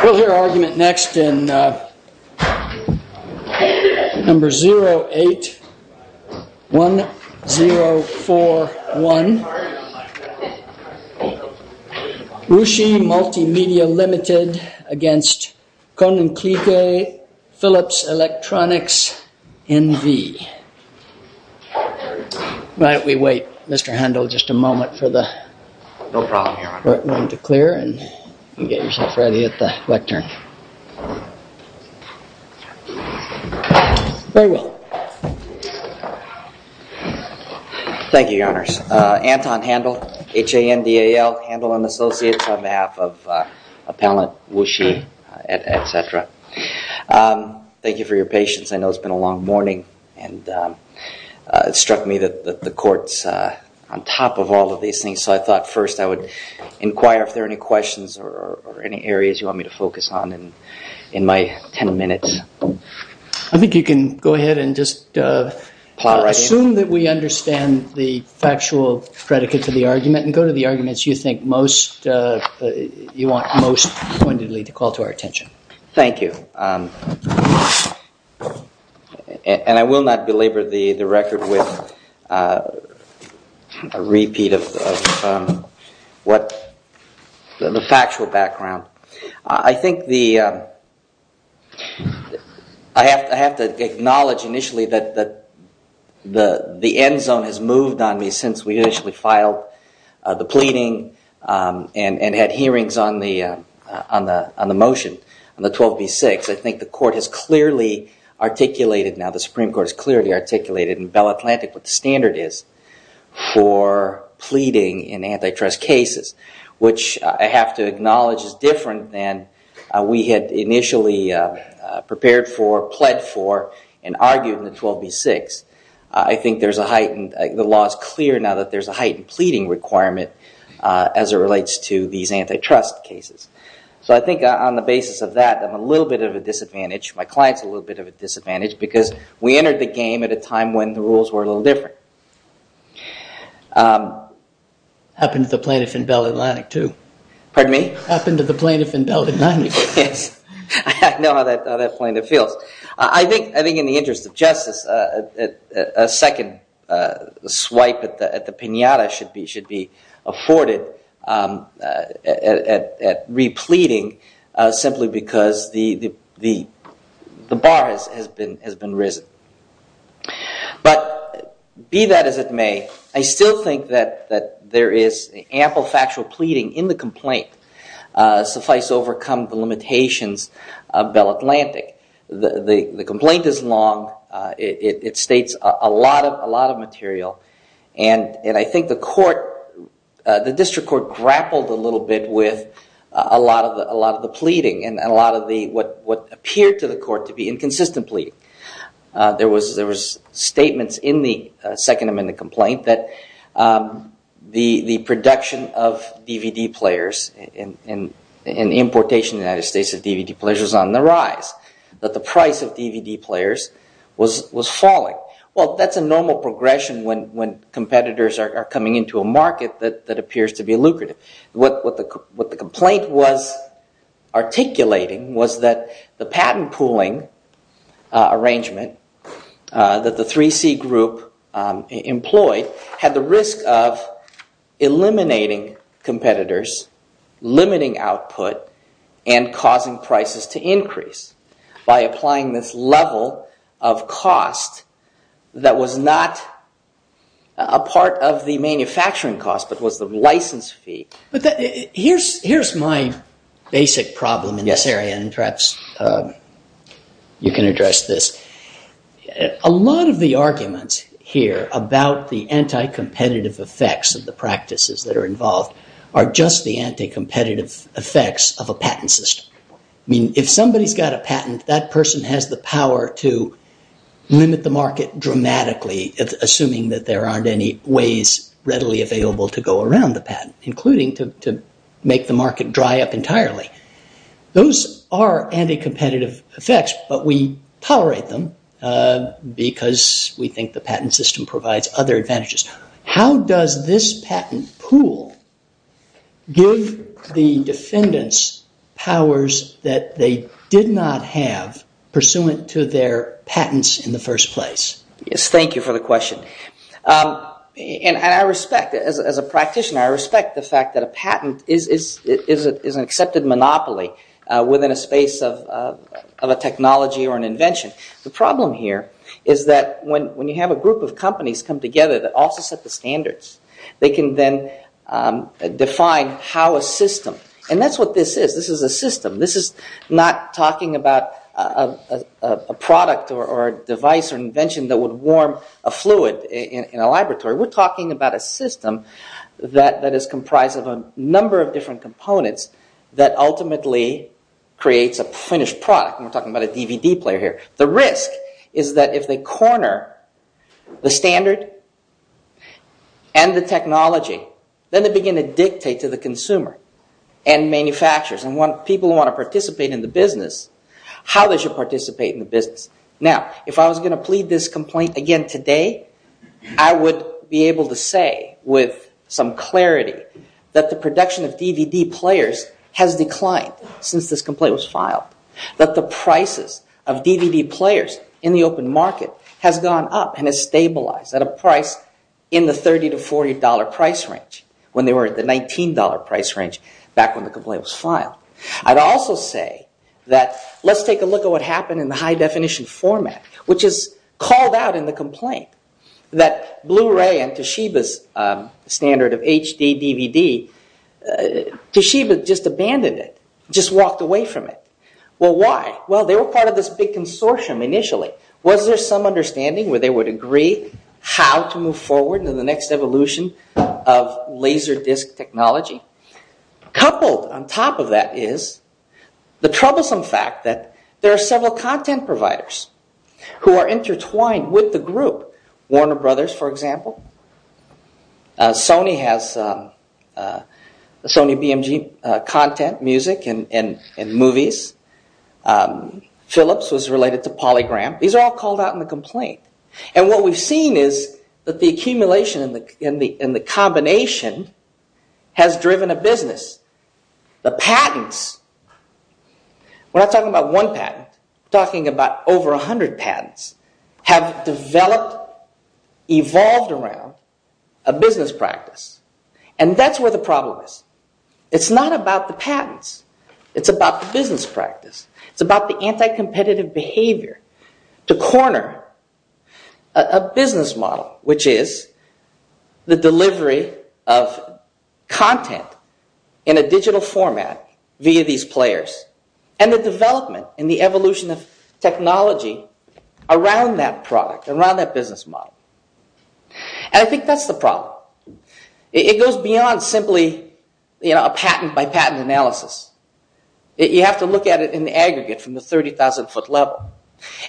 We'll hear argument next in number 081041, Wuxi Multimedia Ltd. against KoninKlijke Philips Electronics NV. Why don't we wait, Mr. Handel, just a moment for the room to clear and get yourself ready at the lectern. Thank you, Your Honors. Anton Handel, H-A-N-D-A-L, Handel & Associates on behalf of Appellant Wuxi, etc. Thank you for your patience. I know it's been a long morning and it struck me that the Court's on top of all of these things, so I thought first I would inquire if there are any questions or any areas you want me to focus on in my 10 minutes. I think you can go ahead and just assume that we understand the factual predicate to the argument and go to the arguments you think you want most pointedly to call to our attention. Thank you. And I will not belabor the record with a repeat of the factual background. I think I have to acknowledge initially that the end zone has moved on me since we initially filed the pleading and had hearings on the motion on the 12B6. I think the Supreme Court has clearly articulated in Bell Atlantic what the standard is for pleading in antitrust cases, which I have to acknowledge is different than we had initially prepared for, pled for, and argued in the 12B6. I think there's a heightened, the law is clear now that there's a heightened pleading requirement as it relates to these antitrust cases. So I think on the basis of that I'm a little bit of a disadvantage, my client's a little bit of a disadvantage because we entered the game at a time when the rules were a little different. Happened to the plaintiff in Bell Atlantic too. Pardon me? Happened to the plaintiff in Bell Atlantic. I know how that plaintiff feels. I think in the interest of justice, a second swipe at the pinata should be afforded at repleading simply because the bar has been risen. But be that as it may, I still think that there is ample factual pleading in the complaint suffice to overcome the limitations of Bell Atlantic. The complaint is long, it states a lot of material, and I think the court, the district court grappled a little bit with a lot of the pleading and a lot of what appeared to the court to be inconsistent pleading. There was statements in the Second Amendment complaint that the production of DVD players and importation in the United States of DVD players was on the rise. That the price of DVD players was falling. Well, that's a normal progression when competitors are coming into a market that appears to be lucrative. What the complaint was articulating was that the patent pooling arrangement that the 3C group employed had the risk of eliminating competitors, limiting output, and causing prices to increase. By applying this level of cost that was not a part of the manufacturing cost, but was the license fee. Here's my basic problem in this area, and perhaps you can address this. A lot of the arguments here about the anti-competitive effects of the practices that are involved are just the anti-competitive effects of a patent system. I mean, if somebody's got a patent, that person has the power to limit the market dramatically, assuming that there aren't any ways readily available to go around the patent, including to make the market dry up entirely. Those are anti-competitive effects, but we tolerate them because we think the patent system provides other advantages. How does this patent pool give the defendants powers that they did not have pursuant to their patents in the first place? Yes, thank you for the question. As a practitioner, I respect the fact that a patent is an accepted monopoly within a space of a technology or an invention. The problem here is that when you have a group of companies come together that also set the standards, they can then define how a system, and that's what this is. This is a system. This is not talking about a product or a device or invention that would warm a fluid in a laboratory. We're talking about a system that is comprised of a number of different components that ultimately creates a finished product, and we're talking about a DVD player here. The risk is that if they corner the standard and the technology, then they begin to dictate to the consumer and manufacturers and people who want to participate in the business how they should participate in the business. Now, if I was going to plead this complaint again today, I would be able to say with some clarity that the production of DVD players has declined since this complaint was filed, that the prices of DVD players in the open market has gone up and has stabilized at a price in the $30 to $40 price range when they were at the $19 price range back when the complaint was filed. I'd also say that let's take a look at what happened in the high-definition format, which is called out in the complaint that Blu-ray and Toshiba's standard of HD DVD, Toshiba just abandoned it, just walked away from it. Well, why? Well, they were part of this big consortium initially. Was there some understanding where they would agree how to move forward into the next evolution of laser disc technology? Coupled on top of that is the troublesome fact that there are several content providers who are intertwined with the group. Warner Brothers, for example. Sony has Sony BMG content, music, and movies. Philips was related to Polygram. These are all called out in the complaint. And what we've seen is that the accumulation and the combination has driven a business. The patents, we're not talking about one patent, we're talking about over 100 patents, have developed, evolved around a business practice. And that's where the problem is. It's not about the patents. It's about the business practice. It's about the anti-competitive behavior to corner a business model, which is the delivery of content in a digital format via these players. And the development and the evolution of technology around that product, around that business model. And I think that's the problem. It goes beyond simply a patent by patent analysis. You have to look at it in the aggregate from the 30,000 foot level.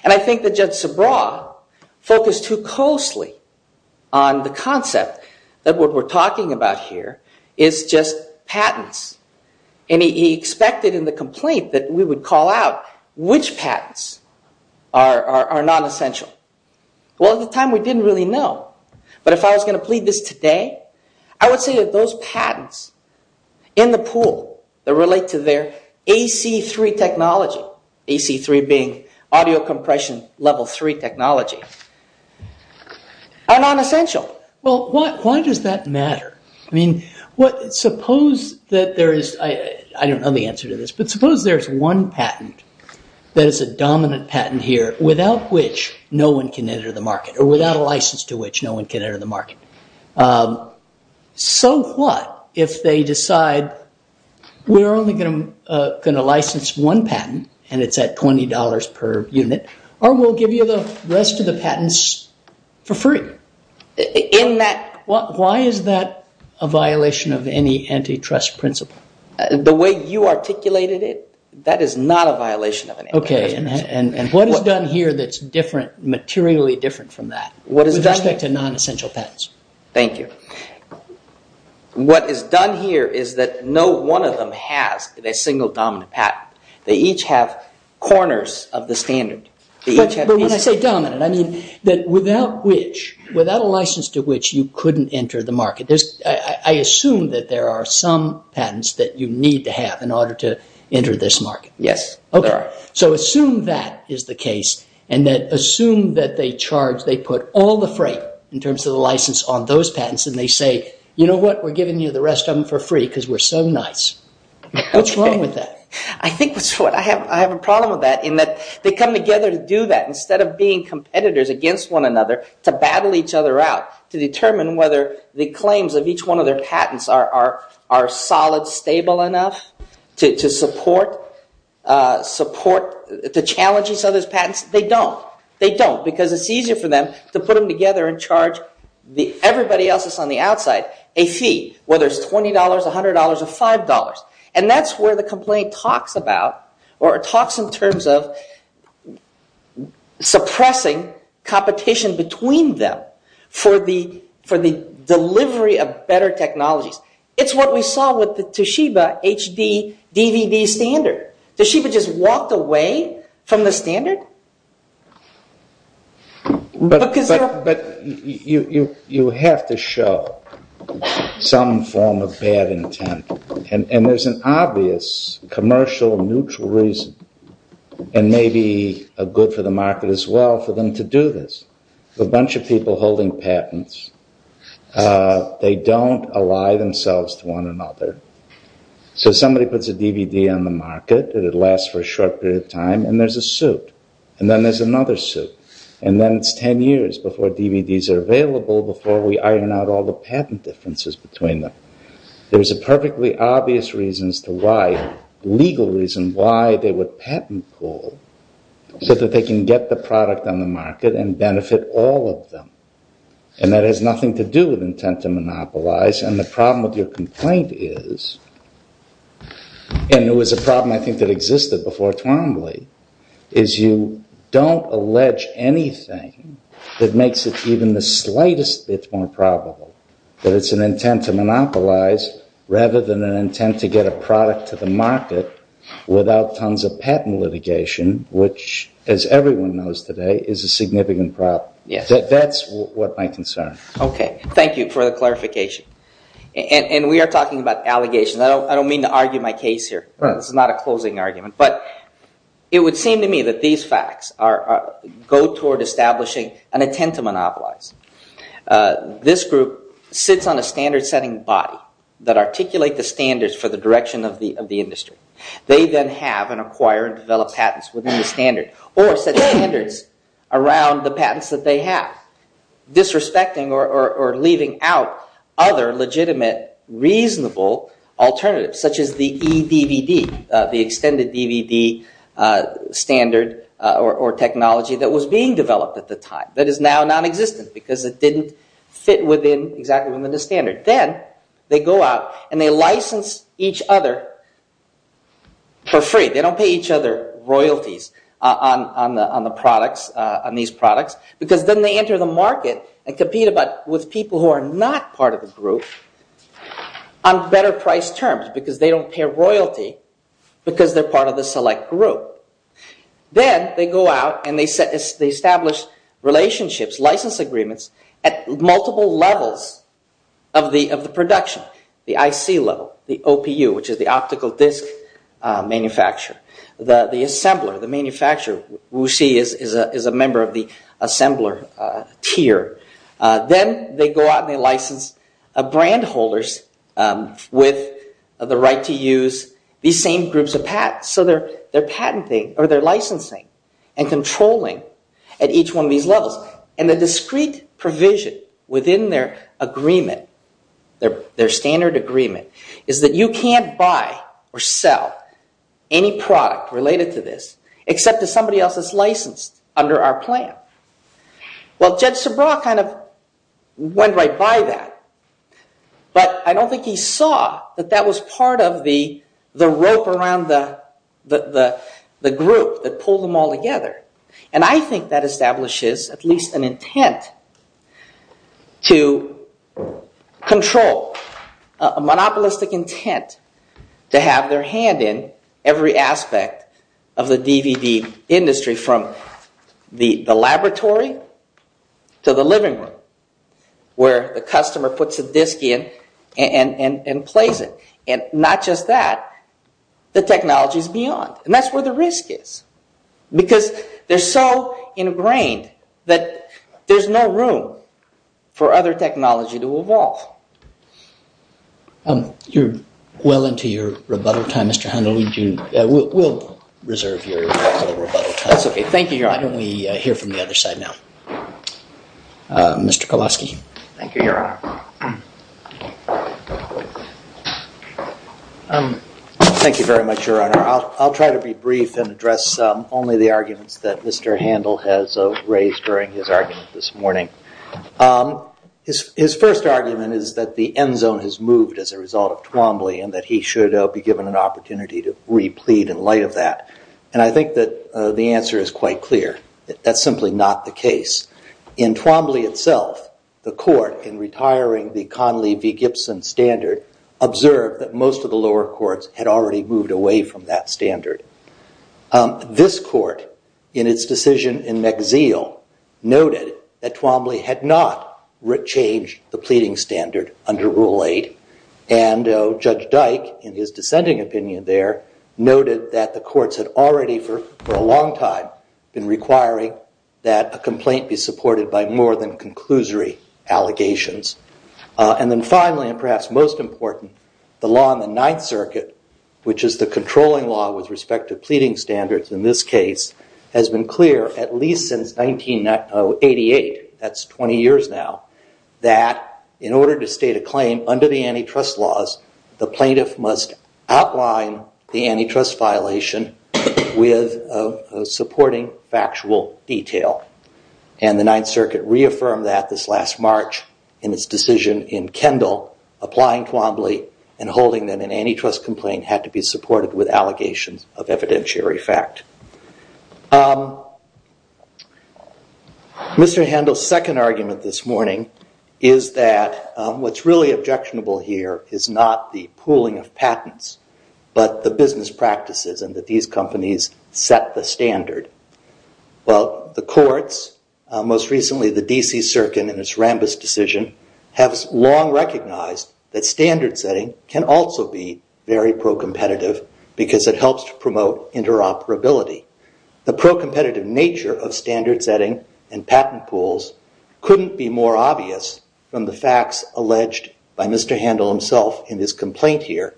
And I think that Judge Sobraw focused too closely on the concept that what we're talking about here is just patents. And he expected in the complaint that we would call out which patents are non-essential. Well, at the time we didn't really know. But if I was going to plead this today, I would say that those patents in the pool that relate to their AC-3 technology, AC-3 being audio compression level three technology, are non-essential. Well, why does that matter? I mean, suppose that there is, I don't know the answer to this, but suppose there's one patent that is a dominant patent here without which no one can enter the market or without a license to which no one can enter the market. So what if they decide we're only going to license one patent and it's at $20 per unit or we'll give you the rest of the patents for free? Why is that a violation of any antitrust principle? The way you articulated it, that is not a violation of antitrust principle. Okay, and what is done here that's materially different from that with respect to non-essential patents? Thank you. What is done here is that no one of them has a single dominant patent. They each have corners of the standard. But when I say dominant, I mean that without a license to which you couldn't enter the market. I assume that there are some patents that you need to have in order to enter this market. Yes, there are. So assume that is the case and assume that they charge, they put all the freight in terms of the license on those patents and they say, you know what, we're giving you the rest of them for free because we're so nice. What's wrong with that? I think I have a problem with that in that they come together to do that instead of being competitors against one another to battle each other out to determine whether the claims of each one of their patents are solid, stable enough to support, to challenge each other's patents. They don't. They don't because it's easier for them to put them together and charge everybody else that's on the outside a fee, whether it's $20, $100, or $5. And that's where the complaint talks about or talks in terms of suppressing competition between them for the delivery of better technologies. It's what we saw with the Toshiba HD DVD standard. Toshiba just walked away from the standard. But you have to show some form of bad intent and there's an obvious commercial neutral reason and maybe a good for the market as well for them to do this. A bunch of people holding patents. They don't ally themselves to one another. So somebody puts a DVD on the market and it lasts for a short period of time and there's a suit. And then there's another suit. And then it's 10 years before DVDs are available, before we iron out all the patent differences between them. There's a perfectly obvious legal reason why they would patent pool so that they can get the product on the market and benefit all of them. And that has nothing to do with intent to monopolize. And the problem with your complaint is, and it was a problem I think that existed before Twombly, is you don't allege anything that makes it even the slightest bit more probable that it's an intent to monopolize rather than an intent to get a product to the market without tons of patent litigation, which as everyone knows today is a significant problem. That's what my concern. Okay. Thank you for the clarification. And we are talking about allegations. I don't mean to argue my case here. This is not a closing argument. But it would seem to me that these facts go toward establishing an intent to monopolize. This group sits on a standard-setting body that articulate the standards for the direction of the industry. They then have and acquire and develop patents within the standard or set standards around the patents that they have, disrespecting or leaving out other legitimate, reasonable alternatives, such as the e-DVD, the extended DVD standard or technology that was being developed at the time that is now nonexistent because it didn't fit exactly within the standard. Then they go out and they license each other for free. They don't pay each other royalties on these products because then they enter the market and compete with people who are not part of the group on better-priced terms because they don't pay royalty because they're part of the select group. Then they go out and they establish relationships, license agreements, at multiple levels of the production. The IC level, the OPU, which is the optical disc manufacturer. The assembler, the manufacturer, who we see is a member of the assembler tier. Then they go out and they license brand holders with the right to use these same groups of patents. So they're patenting or they're licensing and controlling at each one of these levels. The discrete provision within their agreement, their standard agreement, is that you can't buy or sell any product related to this except to somebody else that's licensed under our plan. Well, Jed Sebraw kind of went right by that, but I don't think he saw that that was part of the rope around the group that pulled them all together. I think that establishes at least an intent to control, a monopolistic intent to have their hand in every aspect of the DVD industry from the laboratory to the living room where the customer puts a disc in and plays it. And not just that, the technology is beyond. And that's where the risk is because they're so ingrained that there's no room for other technology to evolve. You're well into your rebuttal time, Mr. Handel. We'll reserve your rebuttal time. Why don't we hear from the other side now? Mr. Kowalski. Thank you, Your Honor. Thank you very much, Your Honor. I'll try to be brief and address only the arguments that Mr. Handel has raised during his argument this morning. His first argument is that the end zone has moved as a result of Twombly and that he should be given an opportunity to replete in light of that. And I think that the answer is quite clear. That's simply not the case. In Twombly itself, the court, in retiring the Conley v. Gibson standard, observed that most of the lower courts had already moved away from that standard. This court, in its decision in McZeel, noted that Twombly had not changed the pleading standard under Rule 8. And Judge Dyke, in his dissenting opinion there, noted that the courts had already, for a long time, been requiring that a complaint be supported by more than conclusory allegations. And then finally, and perhaps most important, the law in the Ninth Circuit, which is the controlling law with respect to pleading standards in this case, has been clear at least since 1988, that's 20 years now, that in order to state a claim under the antitrust laws, the plaintiff must outline the antitrust violation with a supporting factual detail. And the Ninth Circuit reaffirmed that this last March in its decision in Kendall, applying Twombly and holding that an antitrust complaint had to be supported with allegations of evidentiary fact. Mr. Handel's second argument this morning is that what's really objectionable here is not the pooling of patents, but the business practices and that these companies set the standard. Well, the courts, most recently the D.C. Circuit in its Rambis decision, have long recognized that standard setting can also be very pro-competitive because it helps to promote interoperability. The pro-competitive nature of standard setting and patent pools couldn't be more obvious from the facts alleged by Mr. Handel himself in his complaint here,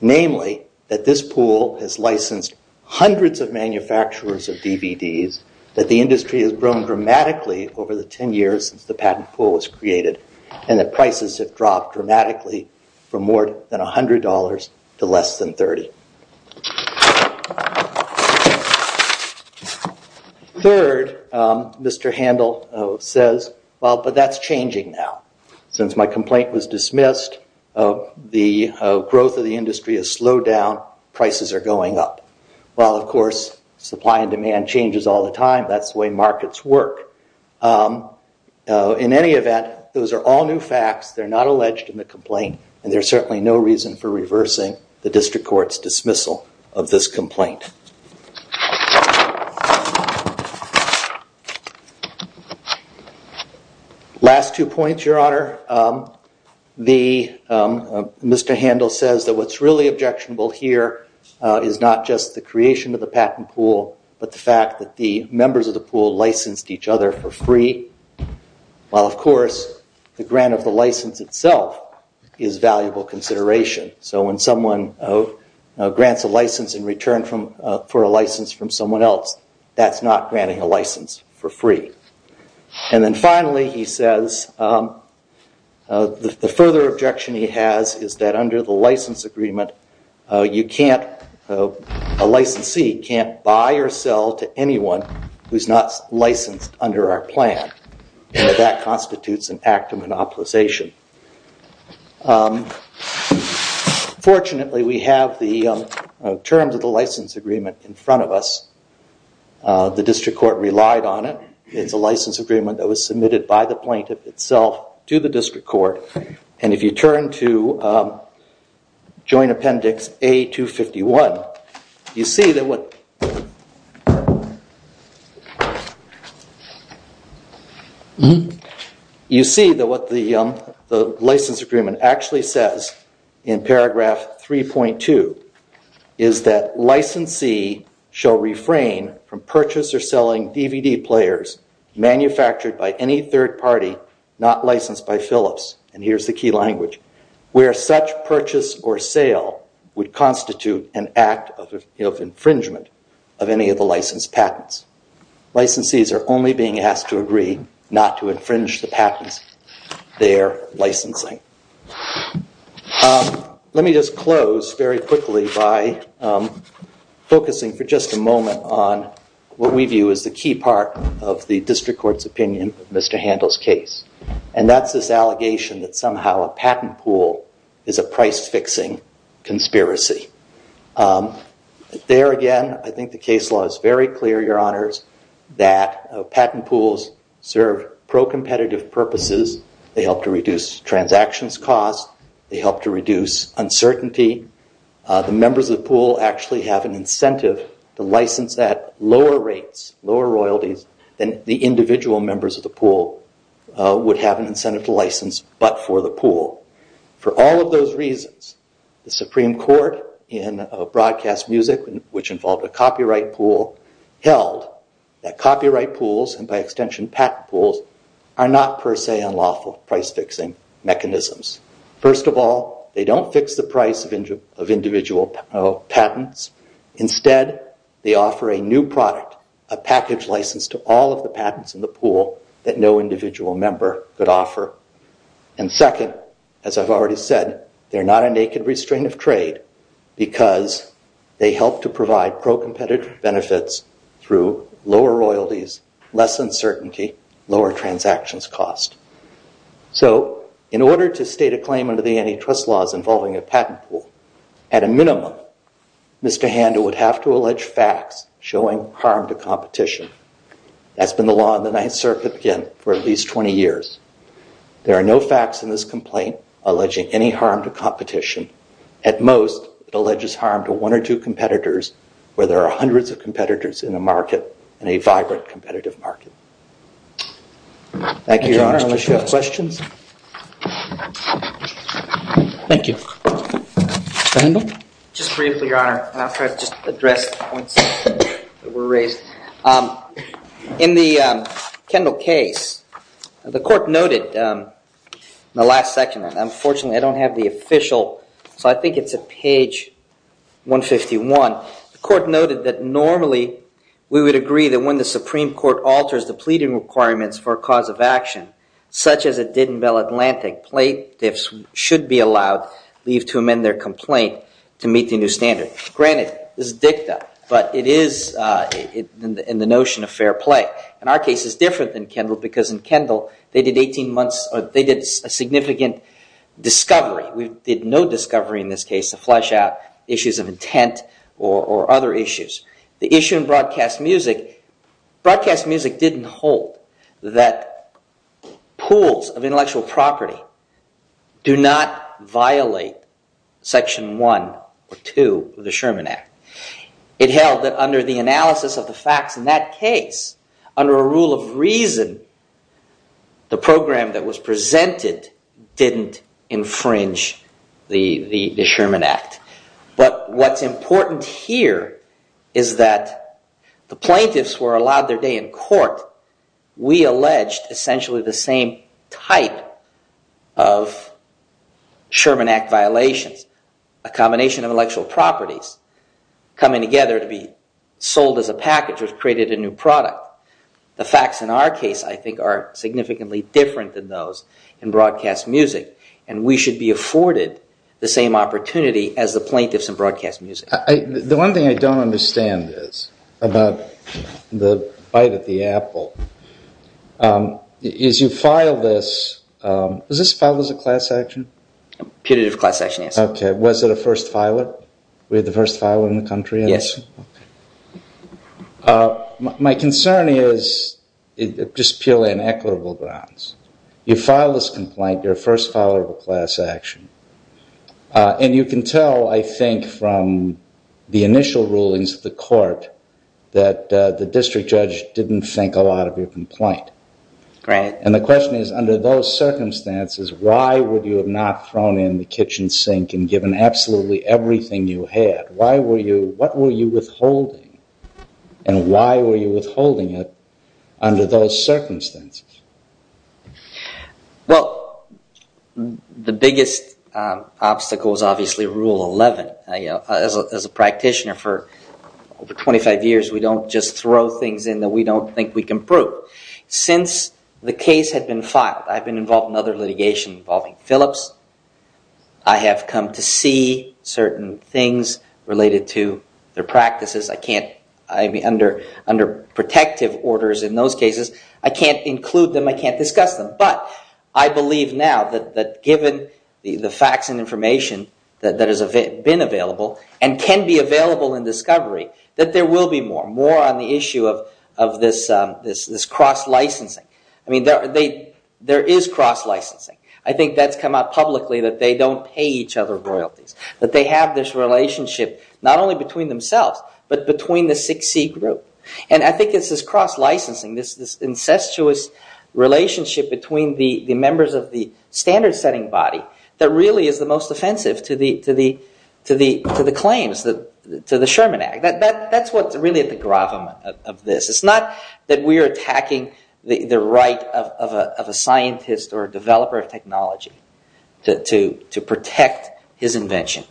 namely that this pool has licensed hundreds of manufacturers of DVDs, that the industry has grown dramatically over the 10 years since the patent pool was created, and that prices have dropped dramatically from more than $100 to less than $30. Third, Mr. Handel says, well, but that's changing now. Since my complaint was dismissed, the growth of the industry has slowed down, prices are going up. Well, of course, supply and demand changes all the time. That's the way markets work. In any event, those are all new facts. They're not alleged in the complaint, and there's certainly no reason for reversing the district court's dismissal of this complaint. Last two points, Your Honor. Mr. Handel says that what's really objectionable here is not just the creation of the patent pool, but the fact that the members of the pool licensed each other for free, while, of course, the grant of the license itself is valuable consideration. So when someone grants a license in return for a license from someone else, that's not granting a license for free. And then finally, he says, the further objection he has is that under the license agreement, a licensee can't buy or sell to anyone who's not licensed under our plan, and that constitutes an act of monopolization. Fortunately, we have the terms of the license agreement in front of us. The district court relied on it. It's a license agreement that was submitted by the plaintiff itself to the district court. And if you turn to Joint Appendix A251, you see that what... You see that what the license agreement actually says in paragraph 3.2 is that licensee shall refrain from purchase or selling DVD players manufactured by any third party not licensed by Phillips. And here's the key language. Where such purchase or sale would constitute an act of infringement of any of the licensed patents. Licensees are only being asked to agree not to infringe the patents they're licensing. Let me just close very quickly by focusing for just a moment on what we view as the key part of the district court's opinion of Mr. Handel's case. And that's this allegation that somehow a patent pool is a price-fixing conspiracy. There again, I think the case law is very clear, your honors, that patent pools serve pro-competitive purposes. They help to reduce transactions costs. They help to reduce uncertainty. The members of the pool actually have an incentive to license at lower rates, lower royalties, than the individual members of the pool would have an incentive to license but for the pool. For all of those reasons, the Supreme Court in Broadcast Music, which involved a copyright pool, held that copyright pools and by extension patent pools are not per se unlawful price-fixing mechanisms. First of all, they don't fix the price of individual patents. Instead, they offer a new product, a package license to all of the patents in the pool that no individual member could offer. And second, as I've already said, they're not a naked restraint of trade because they help to provide pro-competitive benefits through lower royalties, less uncertainty, lower transactions costs. So, in order to state a claim under the antitrust laws involving a patent pool, at a minimum, Mr. Handel would have to allege facts showing harm to competition. That's been the law in the Ninth Circuit for at least 20 years. There are no facts in this complaint alleging any harm to competition. At most, it alleges harm to one or two competitors where there are hundreds of competitors in a market, in a vibrant competitive market. Thank you, Your Honor. Unless you have questions? Thank you. Mr. Handel? Just briefly, Your Honor, and I'll try to just address the points that were raised. In the Kendall case, the court noted in the last section, and unfortunately I don't have the official, so I think it's at page 151, the court noted that normally we would agree that when the Supreme Court alters the pleading requirements for a cause of action, such as it did in Bell Atlantic, plaintiffs should be allowed leave to amend their complaint to meet the new standard. Granted, this is dicta, but it is in the notion of fair play. In our case, it's different than Kendall because in Kendall, they did a significant discovery. We did no discovery in this case to flesh out issues of intent or other issues. The issue in broadcast music, broadcast music didn't hold that pools of intellectual property do not violate Section 1 or 2 of the Sherman Act. It held that under the analysis of the facts in that case, under a rule of reason, the program that was presented didn't infringe the Sherman Act. But what's important here is that the plaintiffs were allowed their day in court. We alleged essentially the same type of Sherman Act violations, a combination of intellectual properties coming together to be sold as a package which created a new product. The facts in our case, I think, are significantly different than those in broadcast music, and we should be afforded the same opportunity as the plaintiffs in broadcast music. The one thing I don't understand is about the bite at the apple is you filed this. Was this filed as a class action? A putative class action, yes. Okay. Was it a first filer? We had the first filer in the country? Yes. Okay. My concern is, just purely on equitable grounds, you file this complaint, you're a first filer of a class action, and you can tell, I think, from the initial rulings of the court that the district judge didn't think a lot of your complaint. Right. And the question is, under those circumstances, why would you have not thrown in the kitchen sink and given absolutely everything you had? What were you withholding, and why were you withholding it under those circumstances? Well, the biggest obstacle is obviously Rule 11. As a practitioner for over 25 years, we don't just throw things in that we don't think we can prove. Since the case had been filed, I've been involved in other litigation involving Phillips. I have come to see certain things related to their practices. Under protective orders in those cases, I can't include them, I can't discuss them, but I believe now that given the facts and information that has been available and can be available in discovery, that there will be more, more on the issue of this cross-licensing. I mean, there is cross-licensing. I think that's come out publicly, that they don't pay each other royalties, that they have this relationship not only between themselves, but between the 6C group. And I think it's this cross-licensing, this incestuous relationship between the members of the standard-setting body that really is the most offensive to the claims, to the Sherman Act. That's what's really at the gravum of this. It's not that we are attacking the right of a scientist or a developer of technology to protect his invention.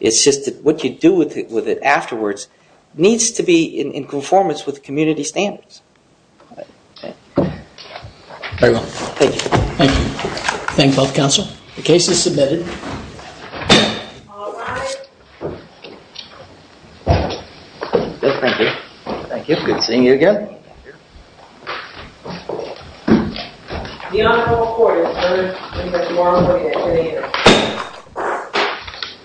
It's just that what you do with it afterwards needs to be in conformance with community standards. Thank you. Thank you. Thank you both, counsel. The case is submitted. All rise. Thank you. Thank you. Good seeing you again. Thank you. The Honorable Court has heard Professor Marlow's opinion. Thank you.